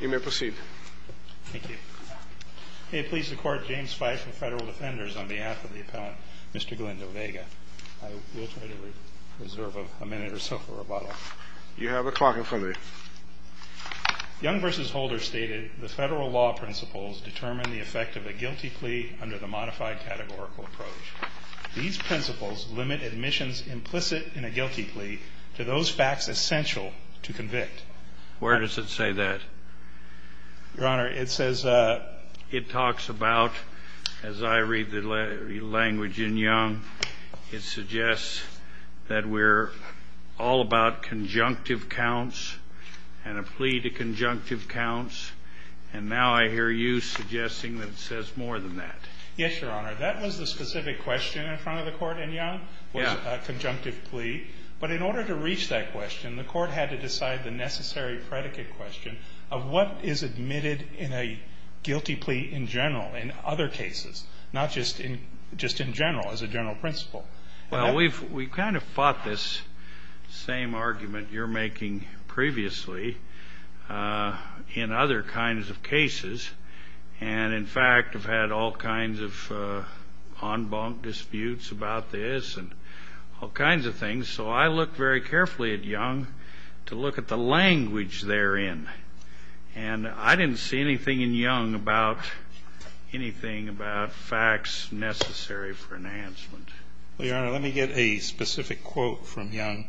Young v. Holder stated, The federal law principles determine the effect of a guilty plea under the modified categorical approach. These principles limit admissions implicit in a guilty plea to those facts essential to convict. Where does it say that? Your Honor, it says... It talks about, as I read the language in Young, it suggests that we're all about conjunctive counts and a plea to conjunctive counts. And now I hear you suggesting that it says more than that. Yes, Your Honor. That was the specific question in front of the Court in Young, was a conjunctive plea. But in order to reach that question, the Court had to decide the necessary predicate question of what is admitted in a guilty plea in general, in other cases, not just in general, as a general principle. Well, we've kind of fought this same argument you're making previously in other kinds of cases and, in fact, have had all kinds of en banc disputes about this and all kinds of things. So I look very carefully at Young to look at the language therein. And I didn't see anything in Young about anything about facts necessary for enhancement. Well, Your Honor, let me get a specific quote from Young.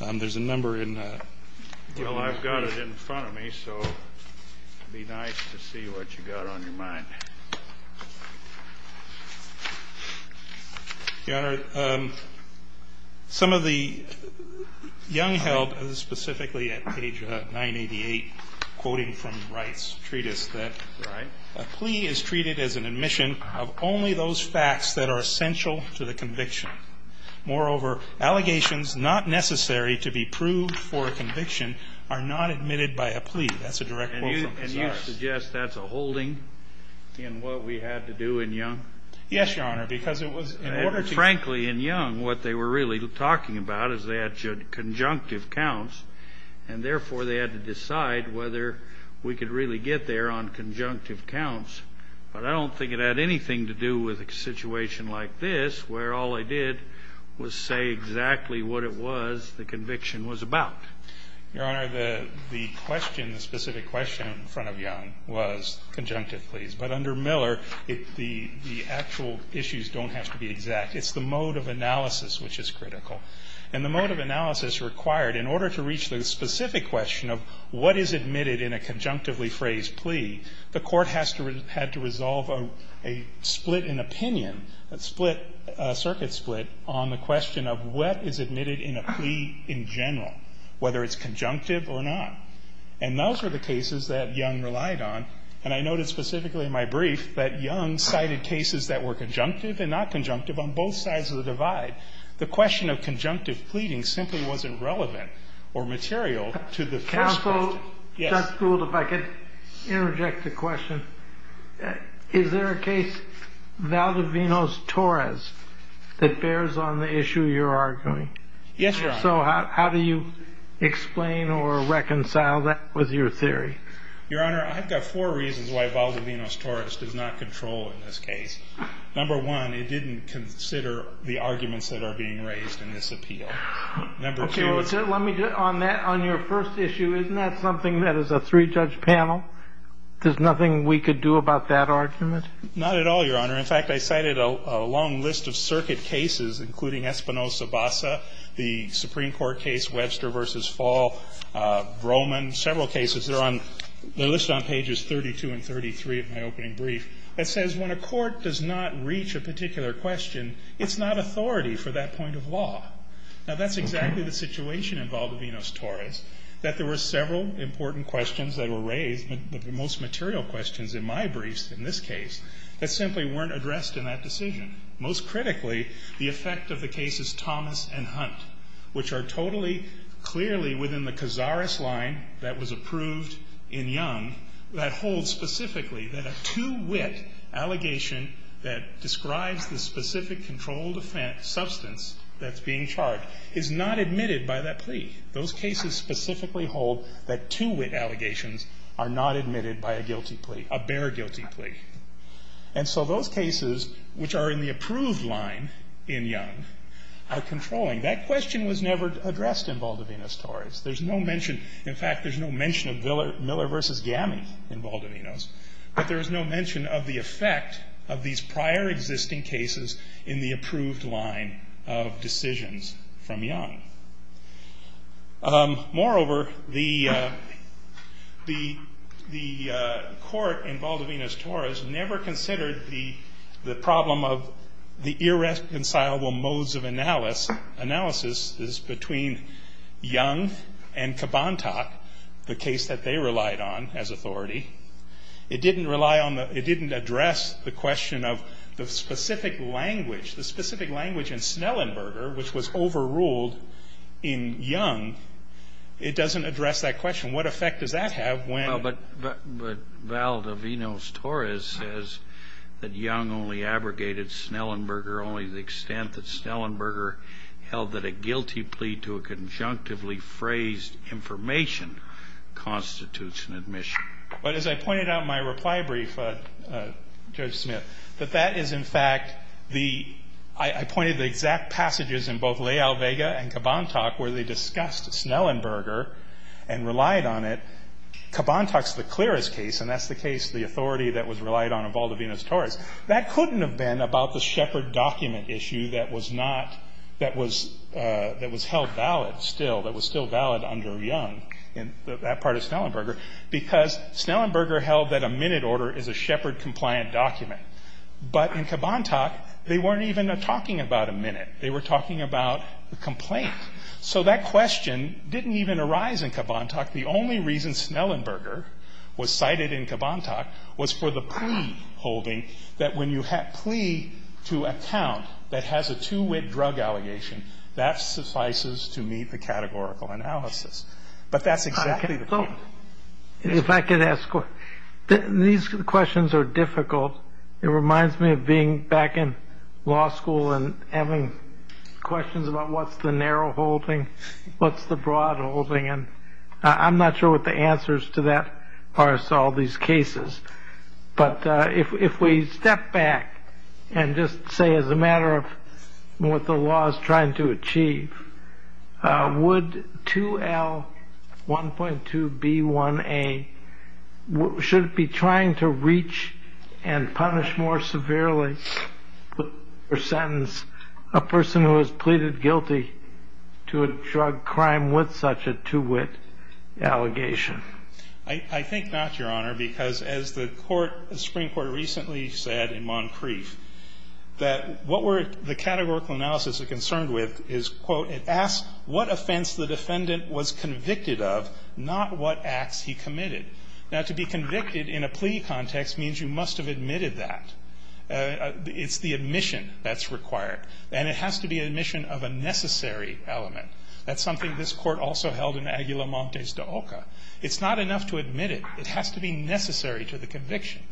There's a number in... Well, I've got it in front of me, so it would be nice to see what you've got on your mind. Your Honor, some of the Young held, specifically at page 988, quoting from Wright's treatise, that a plea is treated as an admission of only those facts that are essential to the conviction. Moreover, allegations not necessary to be proved for a conviction are not admitted by a plea. That's a direct quote from Pizarro. And you suggest that's a holding in what we had to do in Young? Yes, Your Honor, because it was in order to... Frankly, in Young, what they were really talking about is they had conjunctive counts, and therefore they had to decide whether we could really get there on conjunctive counts. But I don't think it had anything to do with a situation like this, where all I did was say exactly what it was the conviction was about. Your Honor, the question, the specific question in front of Young was conjunctive pleas. But under Miller, the actual issues don't have to be exact. It's the mode of analysis which is critical. And the mode of analysis required, in order to reach the specific question of what is admitted in a conjunctively phrased plea, the court had to resolve a split in opinion, a circuit split, on the question of what is admitted in a plea in general, whether it's conjunctive or not. And those were the cases that Young relied on. And I noted specifically in my brief that Young cited cases that were conjunctive and not conjunctive on both sides of the divide. The question of conjunctive pleading simply wasn't relevant or material to the first question. Counsel, Judge Gould, if I could interject a question. Is there a case, Valdovino's Torres, that was your theory? Yes, Your Honor. So how do you explain or reconcile that was your theory? Your Honor, I've got four reasons why Valdovino's Torres does not control in this case. Number one, it didn't consider the arguments that are being raised in this appeal. Number two is that Okay, let me, on that, on your first issue, isn't that something that as a three-judge panel, there's nothing we could do about that argument? Not at all, Your Honor. In fact, I cited a long list of circuit cases, including Espinoza-Bassa, the Supreme Court case Webster v. Fall, Roman, several cases. They're on, they're listed on pages 32 and 33 of my opening brief that says when a court does not reach a particular question, it's not authority for that point of law. Now, that's exactly the situation in Valdovino's Torres, that there were several important questions that were raised, but the most material questions in my briefs in this case, that simply weren't addressed in that decision. Most critically, the effect of the cases Thomas and Hunt, which are totally, clearly within the Cazares line that was approved in Young, that holds specifically that a two-wit allegation that describes the specific controlled offense substance that's being charged is not admitted by that plea. Those cases specifically hold that two-wit allegations are not admitted by a guilty plea, a bare guilty plea. And so those cases, which are in the approved line in Young, are controlling. That question was never addressed in Valdovino's Torres. There's no mention, in fact, there's no mention of Miller v. Gami in Valdovino's, but there is no mention of the effect of these prior existing cases in the approved line of decisions from Young. Moreover, the, the, the court in Valdovino's Torres never considered the, the problem of the irreconcilable modes of analysis, analysis is between Young and Cabantat, the case that they relied on as authority. It didn't rely on the, it didn't address the question of the specific language, the specific language in Snellenberger, which was overruled in Young. It doesn't address that question. What effect does that have when? Well, but, but, but Valdovino's Torres says that Young only abrogated Snellenberger only to the extent that Snellenberger held that a guilty plea to a conjunctively phrased information constitutes an admission. But as I pointed out in my reply brief, Judge Smith, that that is, in fact, the, I, I pointed the exact passages in both Leal-Vega and Cabantat where they discussed Snellenberger and relied on it. Cabantat's the clearest case, and that's the case, the authority that was relied on in Valdovino's Torres. That couldn't have been about the Shepard document issue that was not, that was, that was held valid still, that was still valid under Young in that part of Snellenberger, because Snellenberger held that a minute order is a Shepard-compliant document. But in Cabantat, they weren't even talking about a minute. They were talking about the complaint. So that question didn't even arise in Cabantat. The only reason Snellenberger was cited in Cabantat was for the plea holding that when you have a plea to a count that has a two-wit drug allegation, that suffices to meet the categorical analysis. But that's exactly the case. Kennedy. If I could ask, these questions are difficult. It reminds me of being back in law school and having questions about what's the narrow holding, what's the broad holding, and I'm not sure what the answers to that are to all these cases. But if we step back and just say as a matter of what the law is trying to achieve, would 2L1.2b1a, should it be trying to reach and punish more severely or sentence a person who has pleaded guilty to a drug crime with such a two-wit allegation? I think not, Your Honor, because as the Court, the Supreme Court recently said in Moncrief that what we're the categorical analysis is concerned with is, quote, it asks what offense the defendant was convicted of, not what acts he committed. Now, to be convicted in a plea context means you must have admitted that. It's the admission that's required. And it has to be admission of a necessary element. That's something this Court also held in Aguila Montes de Oca. It's not enough to admit it. It has to be necessary to the conviction.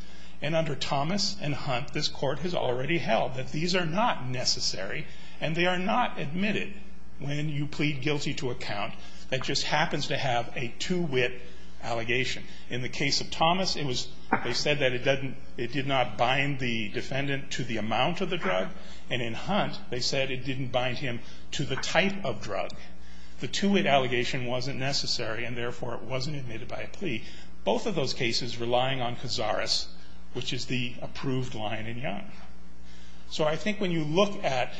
And under Thomas and Hunt, this Court has already held that these are not necessary and they are not admitted when you plead guilty to a count that just happens to have a two-wit allegation. In the case of Thomas, it was they said that it doesn't – it did not bind the defendant to the amount of the drug. And in Hunt, they said it didn't bind him to the type of drug. The two-wit allegation wasn't necessary and, therefore, it wasn't admitted by a plea. Both of those cases relying on Cazares, which is the approved line in Young. So I think when you look at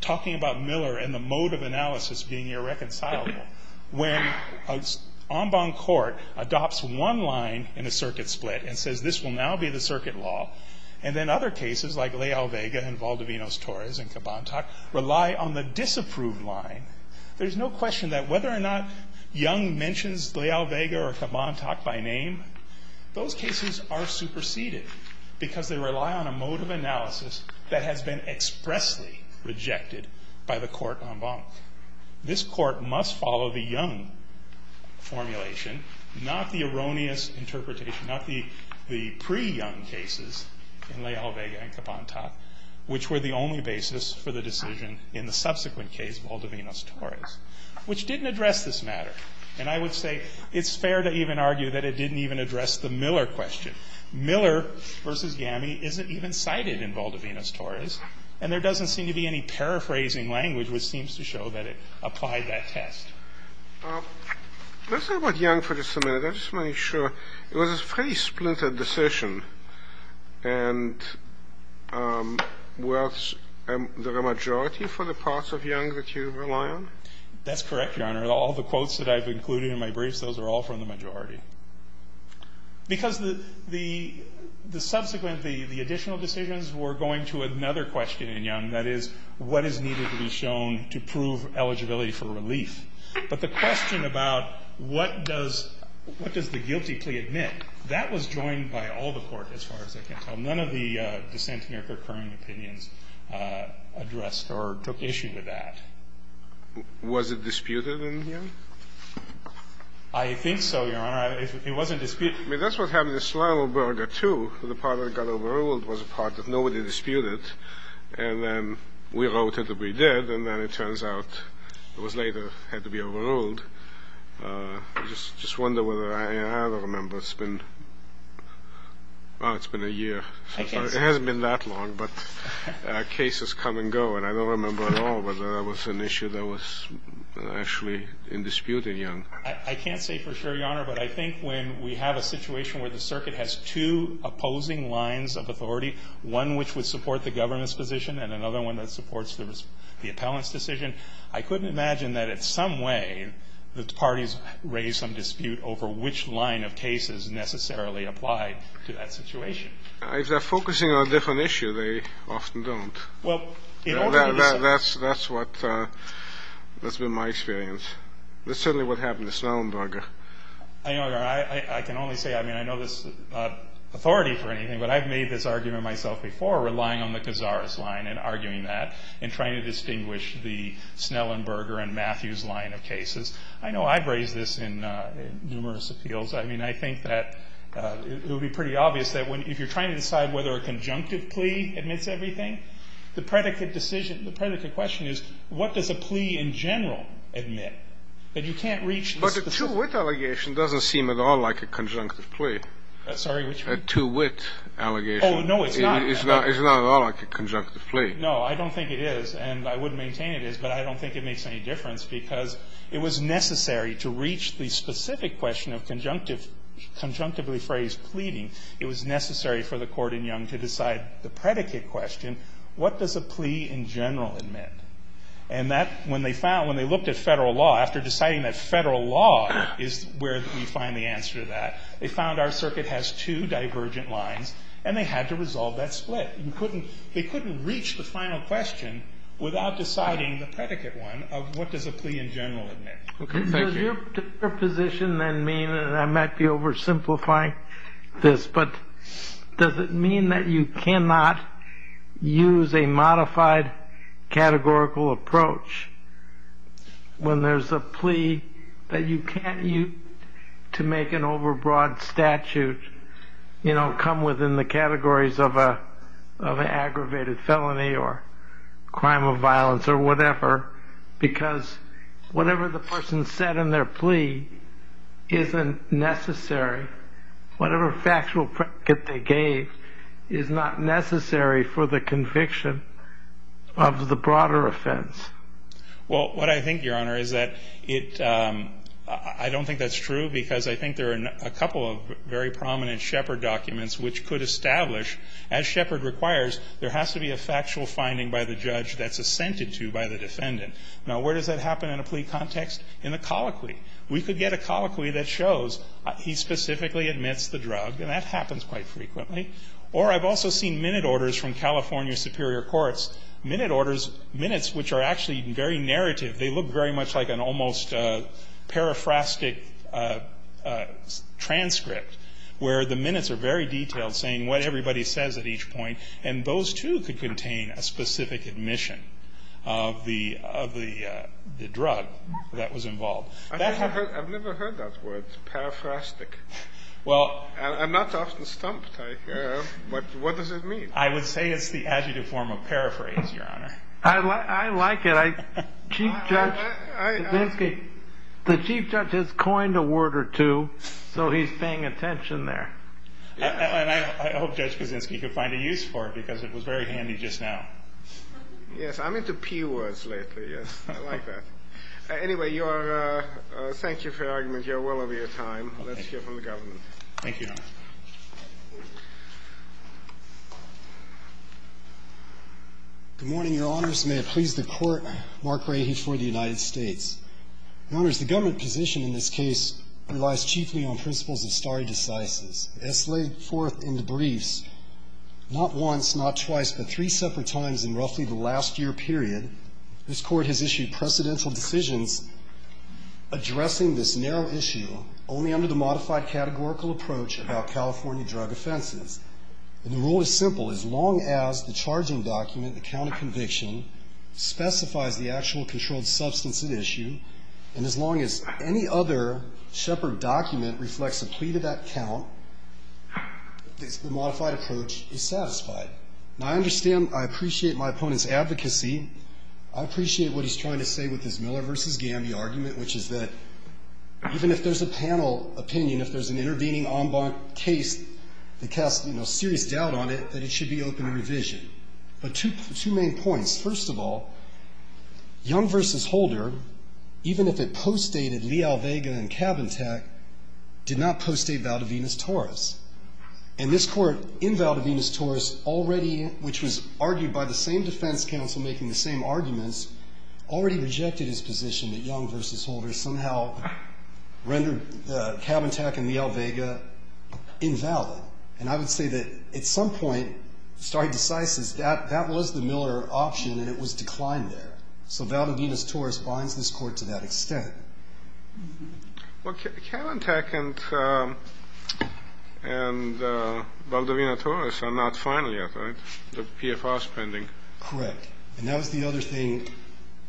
talking about Miller and the mode of analysis being irreconcilable, when an en banc court adopts one line in a circuit split and says this will now be the circuit law, and then other cases like Leal-Vega and Valdivinos-Torres and Cabantac rely on the disapproved line, there's no question that whether or not the defendant is in a mode of analysis that has been expressly rejected by the court en banc. This court must follow the Young formulation, not the erroneous interpretation, not the pre-Young cases in Leal-Vega and Cabantac, which were the only basis for the decision in the subsequent case, Valdivinos-Torres, which didn't address this matter. And I would say it's fair to even argue that it didn't even address the Miller question. Miller v. Yammy isn't even cited in Valdivinos-Torres, and there doesn't seem to be any paraphrasing language which seems to show that it applied that test. Let's talk about Young for just a minute. I just want to make sure. It was a pretty splintered decision. And was there a majority for the parts of Young that you rely on? That's correct, Your Honor. All the quotes that I've included in my briefs, those are all from the majority. Because the subsequent, the additional decisions were going to another question in Young, that is, what is needed to be shown to prove eligibility for relief? But the question about what does the guilty plea admit, that was joined by all the court, as far as I can tell. None of the dissenting or concurring opinions addressed or took issue with that. Was it disputed in Young? I think so, Your Honor. It wasn't disputed. I mean, that's what happened in Slavoburger, too. The part that got overruled was a part that nobody disputed. And then we voted that we did, and then it turns out it was later had to be overruled. I just wonder whether I remember. It's been a year. It hasn't been that long, but cases come and go. But I don't remember at all whether that was an issue that was actually in dispute in Young. I can't say for sure, Your Honor. But I think when we have a situation where the circuit has two opposing lines of authority, one which would support the government's position and another one that supports the appellant's decision, I couldn't imagine that in some way the parties raise some dispute over which line of cases necessarily applied to that situation. If they're focusing on a different issue, they often don't. That's been my experience. That's certainly what happened in Snellenburger. I know, Your Honor. I can only say, I mean, I know there's authority for anything, but I've made this argument myself before, relying on the Cazares line and arguing that and trying to distinguish the Snellenburger and Matthews line of cases. I know I've raised this in numerous appeals. I mean, I think that it would be pretty obvious that if you're trying to decide whether a conjunctive plea admits everything, the predicate decision, the predicate question is what does a plea in general admit, that you can't reach this. But a two-wit allegation doesn't seem at all like a conjunctive plea. Sorry, which one? A two-wit allegation. Oh, no, it's not. It's not at all like a conjunctive plea. No, I don't think it is, and I wouldn't maintain it is, but I don't think it makes any difference because it was necessary to reach the specific question of conjunctively pleading. It was necessary for the court in Young to decide the predicate question, what does a plea in general admit? And that, when they found, when they looked at Federal law, after deciding that Federal law is where we find the answer to that, they found our circuit has two divergent lines, and they had to resolve that split. They couldn't reach the final question without deciding the predicate one of what does a plea in general admit. Okay, thank you. Does your position then mean, and I might be oversimplifying this, but does it mean that you cannot use a modified categorical approach when there's a plea that you can't use to make an overbroad statute come within the categories of an aggravated felony or crime of violence or whatever because whatever the person said in their plea isn't necessary, whatever factual predicate they gave is not necessary for the conviction of the broader offense? Well, what I think, Your Honor, is that I don't think that's true because I think there are a couple of very prominent Shepard documents which could establish, as Shepard requires, there has to be a factual finding by the judge that's assented to by the defendant. Now, where does that happen in a plea context? In the colloquy. We could get a colloquy that shows he specifically admits the drug, and that happens quite frequently. Or I've also seen minute orders from California superior courts, minute orders, minutes which are actually very narrative. They look very much like an almost periphrastic transcript where the minutes are very detailed, saying what everybody says at each point, and those, too, could contain a specific admission of the drug that was involved. I've never heard that word, periphrastic. I'm not often stumped. What does it mean? I would say it's the adjective form of paraphrase, Your Honor. I like it. Chief Judge Kaczynski, the chief judge has coined a word or two, so he's paying attention there. And I hope Judge Kaczynski could find a use for it, because it was very handy just now. Yes, I'm into P words lately, yes. I like that. Anyway, thank you for your argument. You're well over your time. Let's hear from the government. Thank you, Your Honor. Good morning, Your Honors. May it please the Court, Mark Rahe for the United States. Your Honors, the government position in this case relies chiefly on principles of stare decisis. As laid forth in the briefs, not once, not twice, but three separate times in roughly the last year period, this Court has issued precedential decisions addressing this narrow issue only under the modified categorical approach about California drug offenses. And the rule is simple. As long as the charging document, the count of conviction, specifies the actual controlled substance at issue, and as long as any other shepherd document reflects a plea to that count, the modified approach is satisfied. Now, I understand, I appreciate my opponent's advocacy. I appreciate what he's trying to say with his Miller v. Gamby argument, which is that even if there's a panel opinion, if there's an intervening en banc case that casts, you know, serious doubt on it, that it should be open to revision. But two main points. First of all, Young v. Holder, even if it postdated Leal, Vega, and Valdivinas-Torres, did not postdate Valdivinas-Torres. And this Court, in Valdivinas-Torres, already, which was argued by the same defense counsel making the same arguments, already rejected his position that Young v. Holder somehow rendered Kavantech and Leal-Vega invalid. And I would say that at some point, starting to size this, that was the Miller option, and it was declined there. So Valdivinas-Torres binds this Court to that extent. Well, Kavantech and Valdivinas-Torres are not final yet, right? The PFR is pending. Correct. And that was the other thing.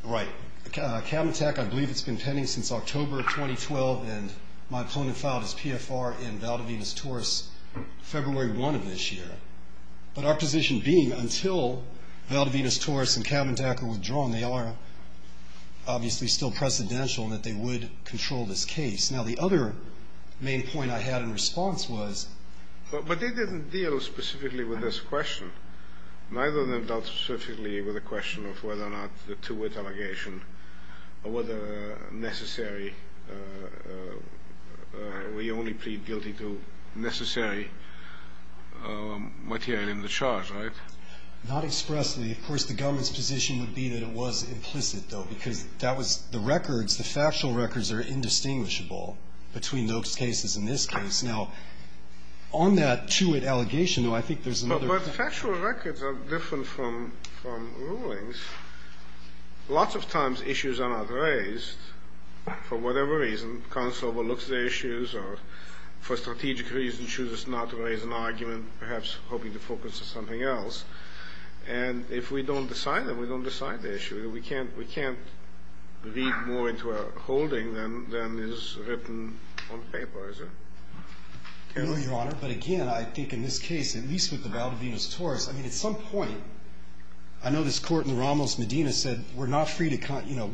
Right. Kavantech, I believe, has been pending since October 2012, and my opponent filed his PFR in Valdivinas-Torres February 1 of this year. But our position being, until Valdivinas-Torres and Kavantech are withdrawn, they are obviously still precedential in that they would control this case. Now, the other main point I had in response was. But they didn't deal specifically with this question. Neither of them dealt specifically with the question of whether or not the two-word allegation or whether necessary, we only plead guilty to necessary material in the charge, right? Not expressly. Of course, the government's position would be that it was implicit, though, because that was the records. The factual records are indistinguishable between those cases and this case. Now, on that two-word allegation, though, I think there's another. But factual records are different from rulings. Lots of times issues are not raised for whatever reason. Counsel overlooks the issues or for strategic reasons chooses not to raise an argument, perhaps hoping to focus on something else. And if we don't decide them, we don't decide the issue. We can't read more into a holding than is written on paper, is it? No, Your Honor. But, again, I think in this case, at least with the Valdivinas-Torres, I mean, at some point, I know this Court in the Ramos Medina said we're not free to, you know,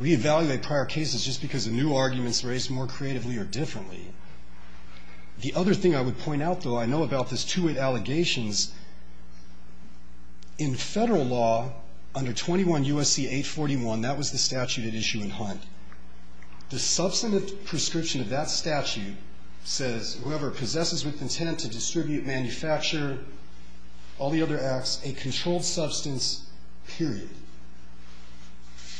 reevaluate prior cases just because the new arguments were raised more creatively or differently. The other thing I would point out, though, I know about this two-word allegations is in Federal law under 21 U.S.C. 841, that was the statute at issue in Hunt. The substantive prescription of that statute says whoever possesses with intent to distribute, manufacture, all the other acts, a controlled substance, period.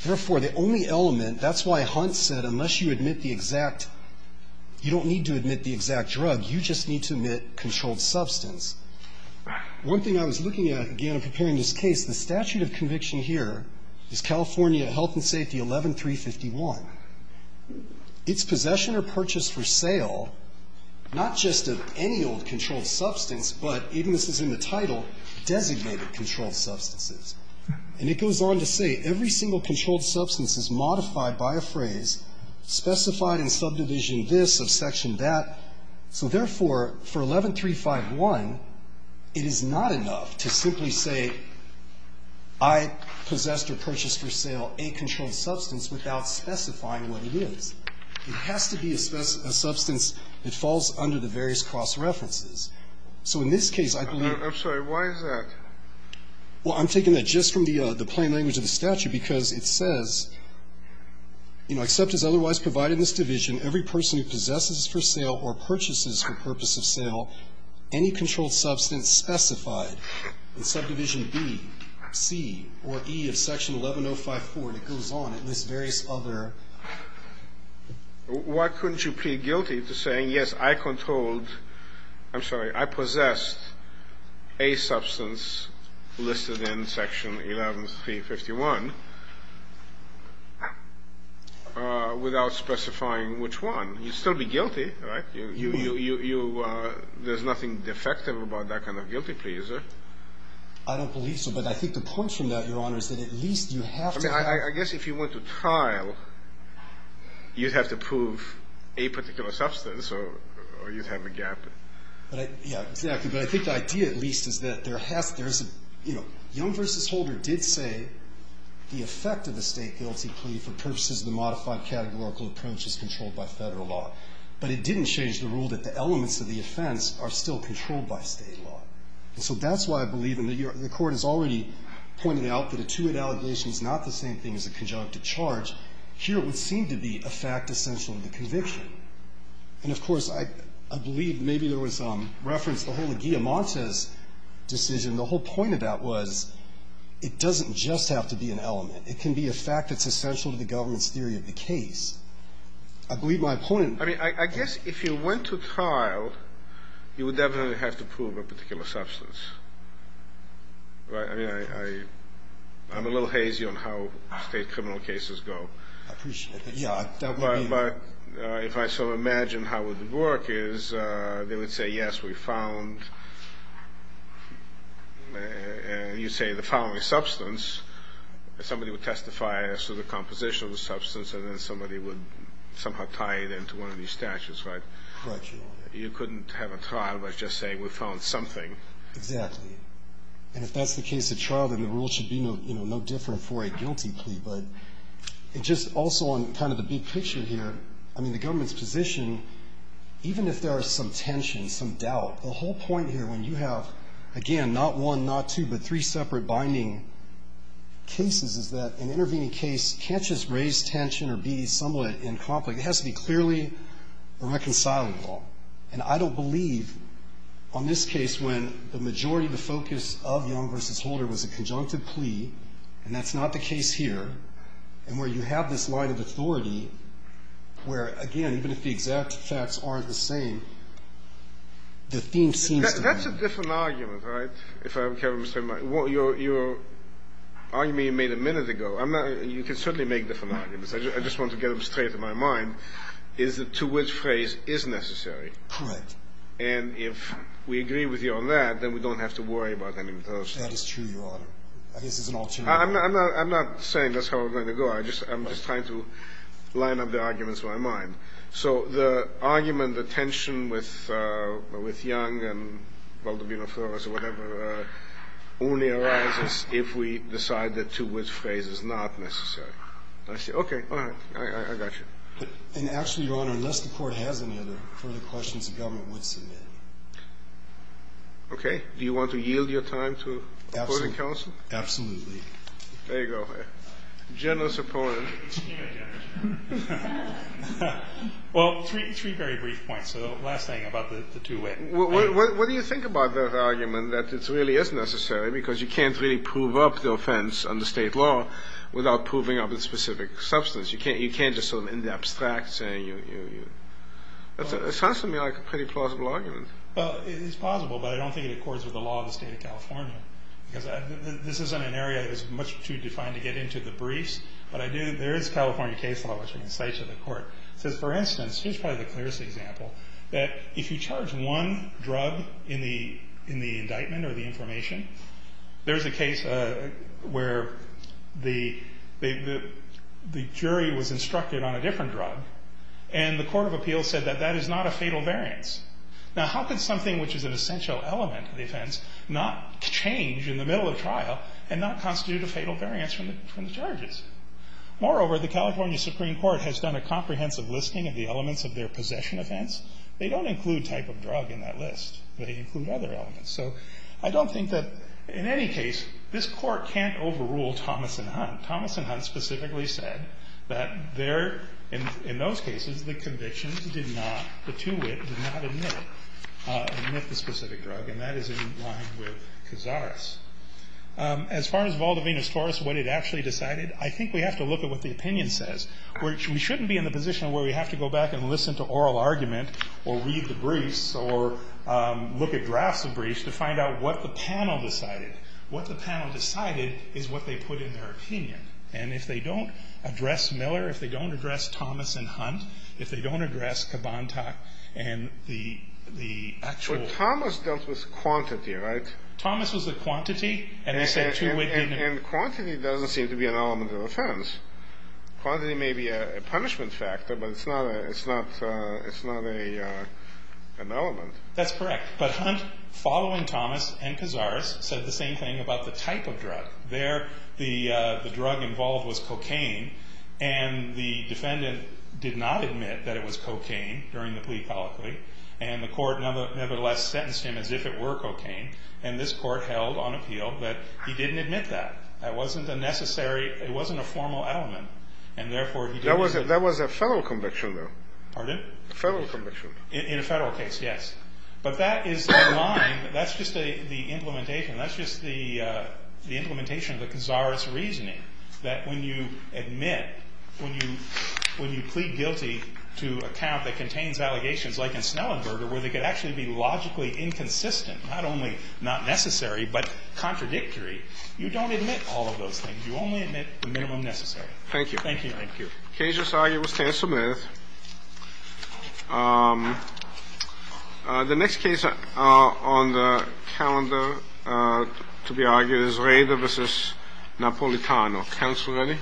Therefore, the only element that's why Hunt said unless you admit the exact you don't need to admit the exact drug, you just need to admit controlled substance. One thing I was looking at, again, in preparing this case, the statute of conviction here is California Health and Safety 11351. It's possession or purchase for sale, not just of any old controlled substance, but even this is in the title, designated controlled substances. And it goes on to say every single controlled substance is modified by a phrase specified in subdivision this of section that. So, therefore, for 11351, it is not enough to simply say I possessed or purchased for sale a controlled substance without specifying what it is. It has to be a substance that falls under the various cross-references. So in this case, I believe that the statute of conviction here says whoever possesses for sale or purchases for purpose of sale any controlled substance specified in subdivision B, C, or E of section 11054, and it goes on. It lists various other. Why couldn't you plead guilty to saying, yes, I controlled, I'm sorry, I possessed a substance listed in section 11351. Without specifying which one. You'd still be guilty, right? There's nothing defective about that kind of guilty plea, is there? I don't believe so. But I think the point from that, Your Honor, is that at least you have to. I mean, I guess if you went to trial, you'd have to prove a particular substance or you'd have a gap. Yeah, exactly. But I think the idea at least is that there has to be, you know, Young v. Holder did say the effect of a State guilty plea for purposes of the modified categorical approach is controlled by Federal law. But it didn't change the rule that the elements of the offense are still controlled by State law. And so that's why I believe, and the Court has already pointed out that a two-hit allegation is not the same thing as a conjunctive charge. Here it would seem to be a fact essential to the conviction. And, of course, I believe maybe there was reference to the whole of Guilliamante's decision. The whole point of that was it doesn't just have to be an element. It can be a fact that's essential to the government's theory of the case. I believe my opponent ---- I mean, I guess if you went to trial, you would definitely have to prove a particular substance, right? I mean, I'm a little hazy on how State criminal cases go. I appreciate it. Yeah, that would be ---- But if I sort of imagine how it would work is they would say, yes, we found, and you say, the following substance. Somebody would testify as to the composition of the substance, and then somebody would somehow tie it into one of these statutes, right? Correct, Your Honor. You couldn't have a trial by just saying we found something. Exactly. And if that's the case at trial, then the rule should be no different for a guilty plea. But just also on kind of the big picture here, I mean, the government's position, even if there are some tensions, some doubt, the whole point here when you have, again, not one, not two, but three separate binding cases, is that an intervening case can't just raise tension or be somewhat in conflict. It has to be clearly reconcilable. And I don't believe on this case when the majority of the focus of Young v. Holder was a conjunctive plea, and that's not the case here, and where you have this line of authority where, again, even if the exact facts aren't the same, the theme seems to be. That's a different argument, right? If I remember straight, your argument you made a minute ago. You can certainly make different arguments. I just wanted to get them straight in my mind, is to which phrase is necessary. Correct. And if we agree with you on that, then we don't have to worry about any of those. That is true, Your Honor. I guess it's an alternative. I'm not saying that's how I'm going to go. I'm just trying to line up the arguments in my mind. So the argument, the tension with Young and Valdobbino-Flores or whatever only arises if we decide that to which phrase is not necessary. I see. Okay. All right. I got you. And actually, Your Honor, unless the Court has any other further questions, the government would submit. Okay. Do you want to yield your time to opposing counsel? Absolutely. Absolutely. There you go. Generous opponent. Extremely generous opponent. Well, three very brief points. So the last thing about the two-way. What do you think about that argument that it really is necessary because you can't really prove up the offense under state law without proving up the specific substance. You can't just sort of in the abstract say, you, you, you. It sounds to me like a pretty plausible argument. Well, it is plausible, but I don't think it accords with the law of the State of California because this isn't an area that is much too defined to get into the briefs, but I do, there is California case law, which I can cite to the Court. It says, for instance, here's probably the clearest example, that if you charge one drug in the indictment or the information, there's a case where the jury was instructed on a different drug, and the Court of Appeals said that that is not a fatal variance. Now, how could something which is an essential element of the offense not change in the middle of trial and not constitute a fatal variance from the charges? Moreover, the California Supreme Court has done a comprehensive listing of the elements of their possession offense. They don't include type of drug in that list. They include other elements. So I don't think that, in any case, this Court can't overrule Thomas and Hunt. Thomas and Hunt specifically said that there, in those cases, the conviction did not, the two-wit did not admit the specific drug, and that is in line with Cazares. As far as Valdovino's Taurus, what it actually decided, I think we have to look at what the opinion says. We shouldn't be in the position where we have to go back and listen to oral argument or read the briefs or look at drafts of briefs to find out what the panel decided. What the panel decided is what they put in their opinion. And if they don't address Miller, if they don't address Thomas and Hunt, if they don't address Kabantak and the actual… But Thomas dealt with quantity, right? Thomas was the quantity, and they said two-wit didn't… And quantity doesn't seem to be an element of offense. Quantity may be a punishment factor, but it's not an element. That's correct. But Hunt, following Thomas and Cazares, said the same thing about the type of drug. There the drug involved was cocaine, and the defendant did not admit that it was cocaine during the plea colloquy, and the court nevertheless sentenced him as if it were cocaine, and this court held on appeal that he didn't admit that. That wasn't a necessary – it wasn't a formal element, and therefore he didn't… That was a federal conviction, though. Pardon? A federal conviction. In a federal case, yes. But that is a line. That's just the implementation. That's just the implementation of the Cazares reasoning, that when you admit, when you plead guilty to a count that contains allegations like in Snellenberger where they could actually be logically inconsistent, not only not necessary, but contradictory, you don't admit all of those things. You only admit the minimum necessary. Thank you. Thank you. Thank you. The case just argued was Tann Smith. The next case on the calendar to be argued is Rader v. Napolitano. Counsel ready?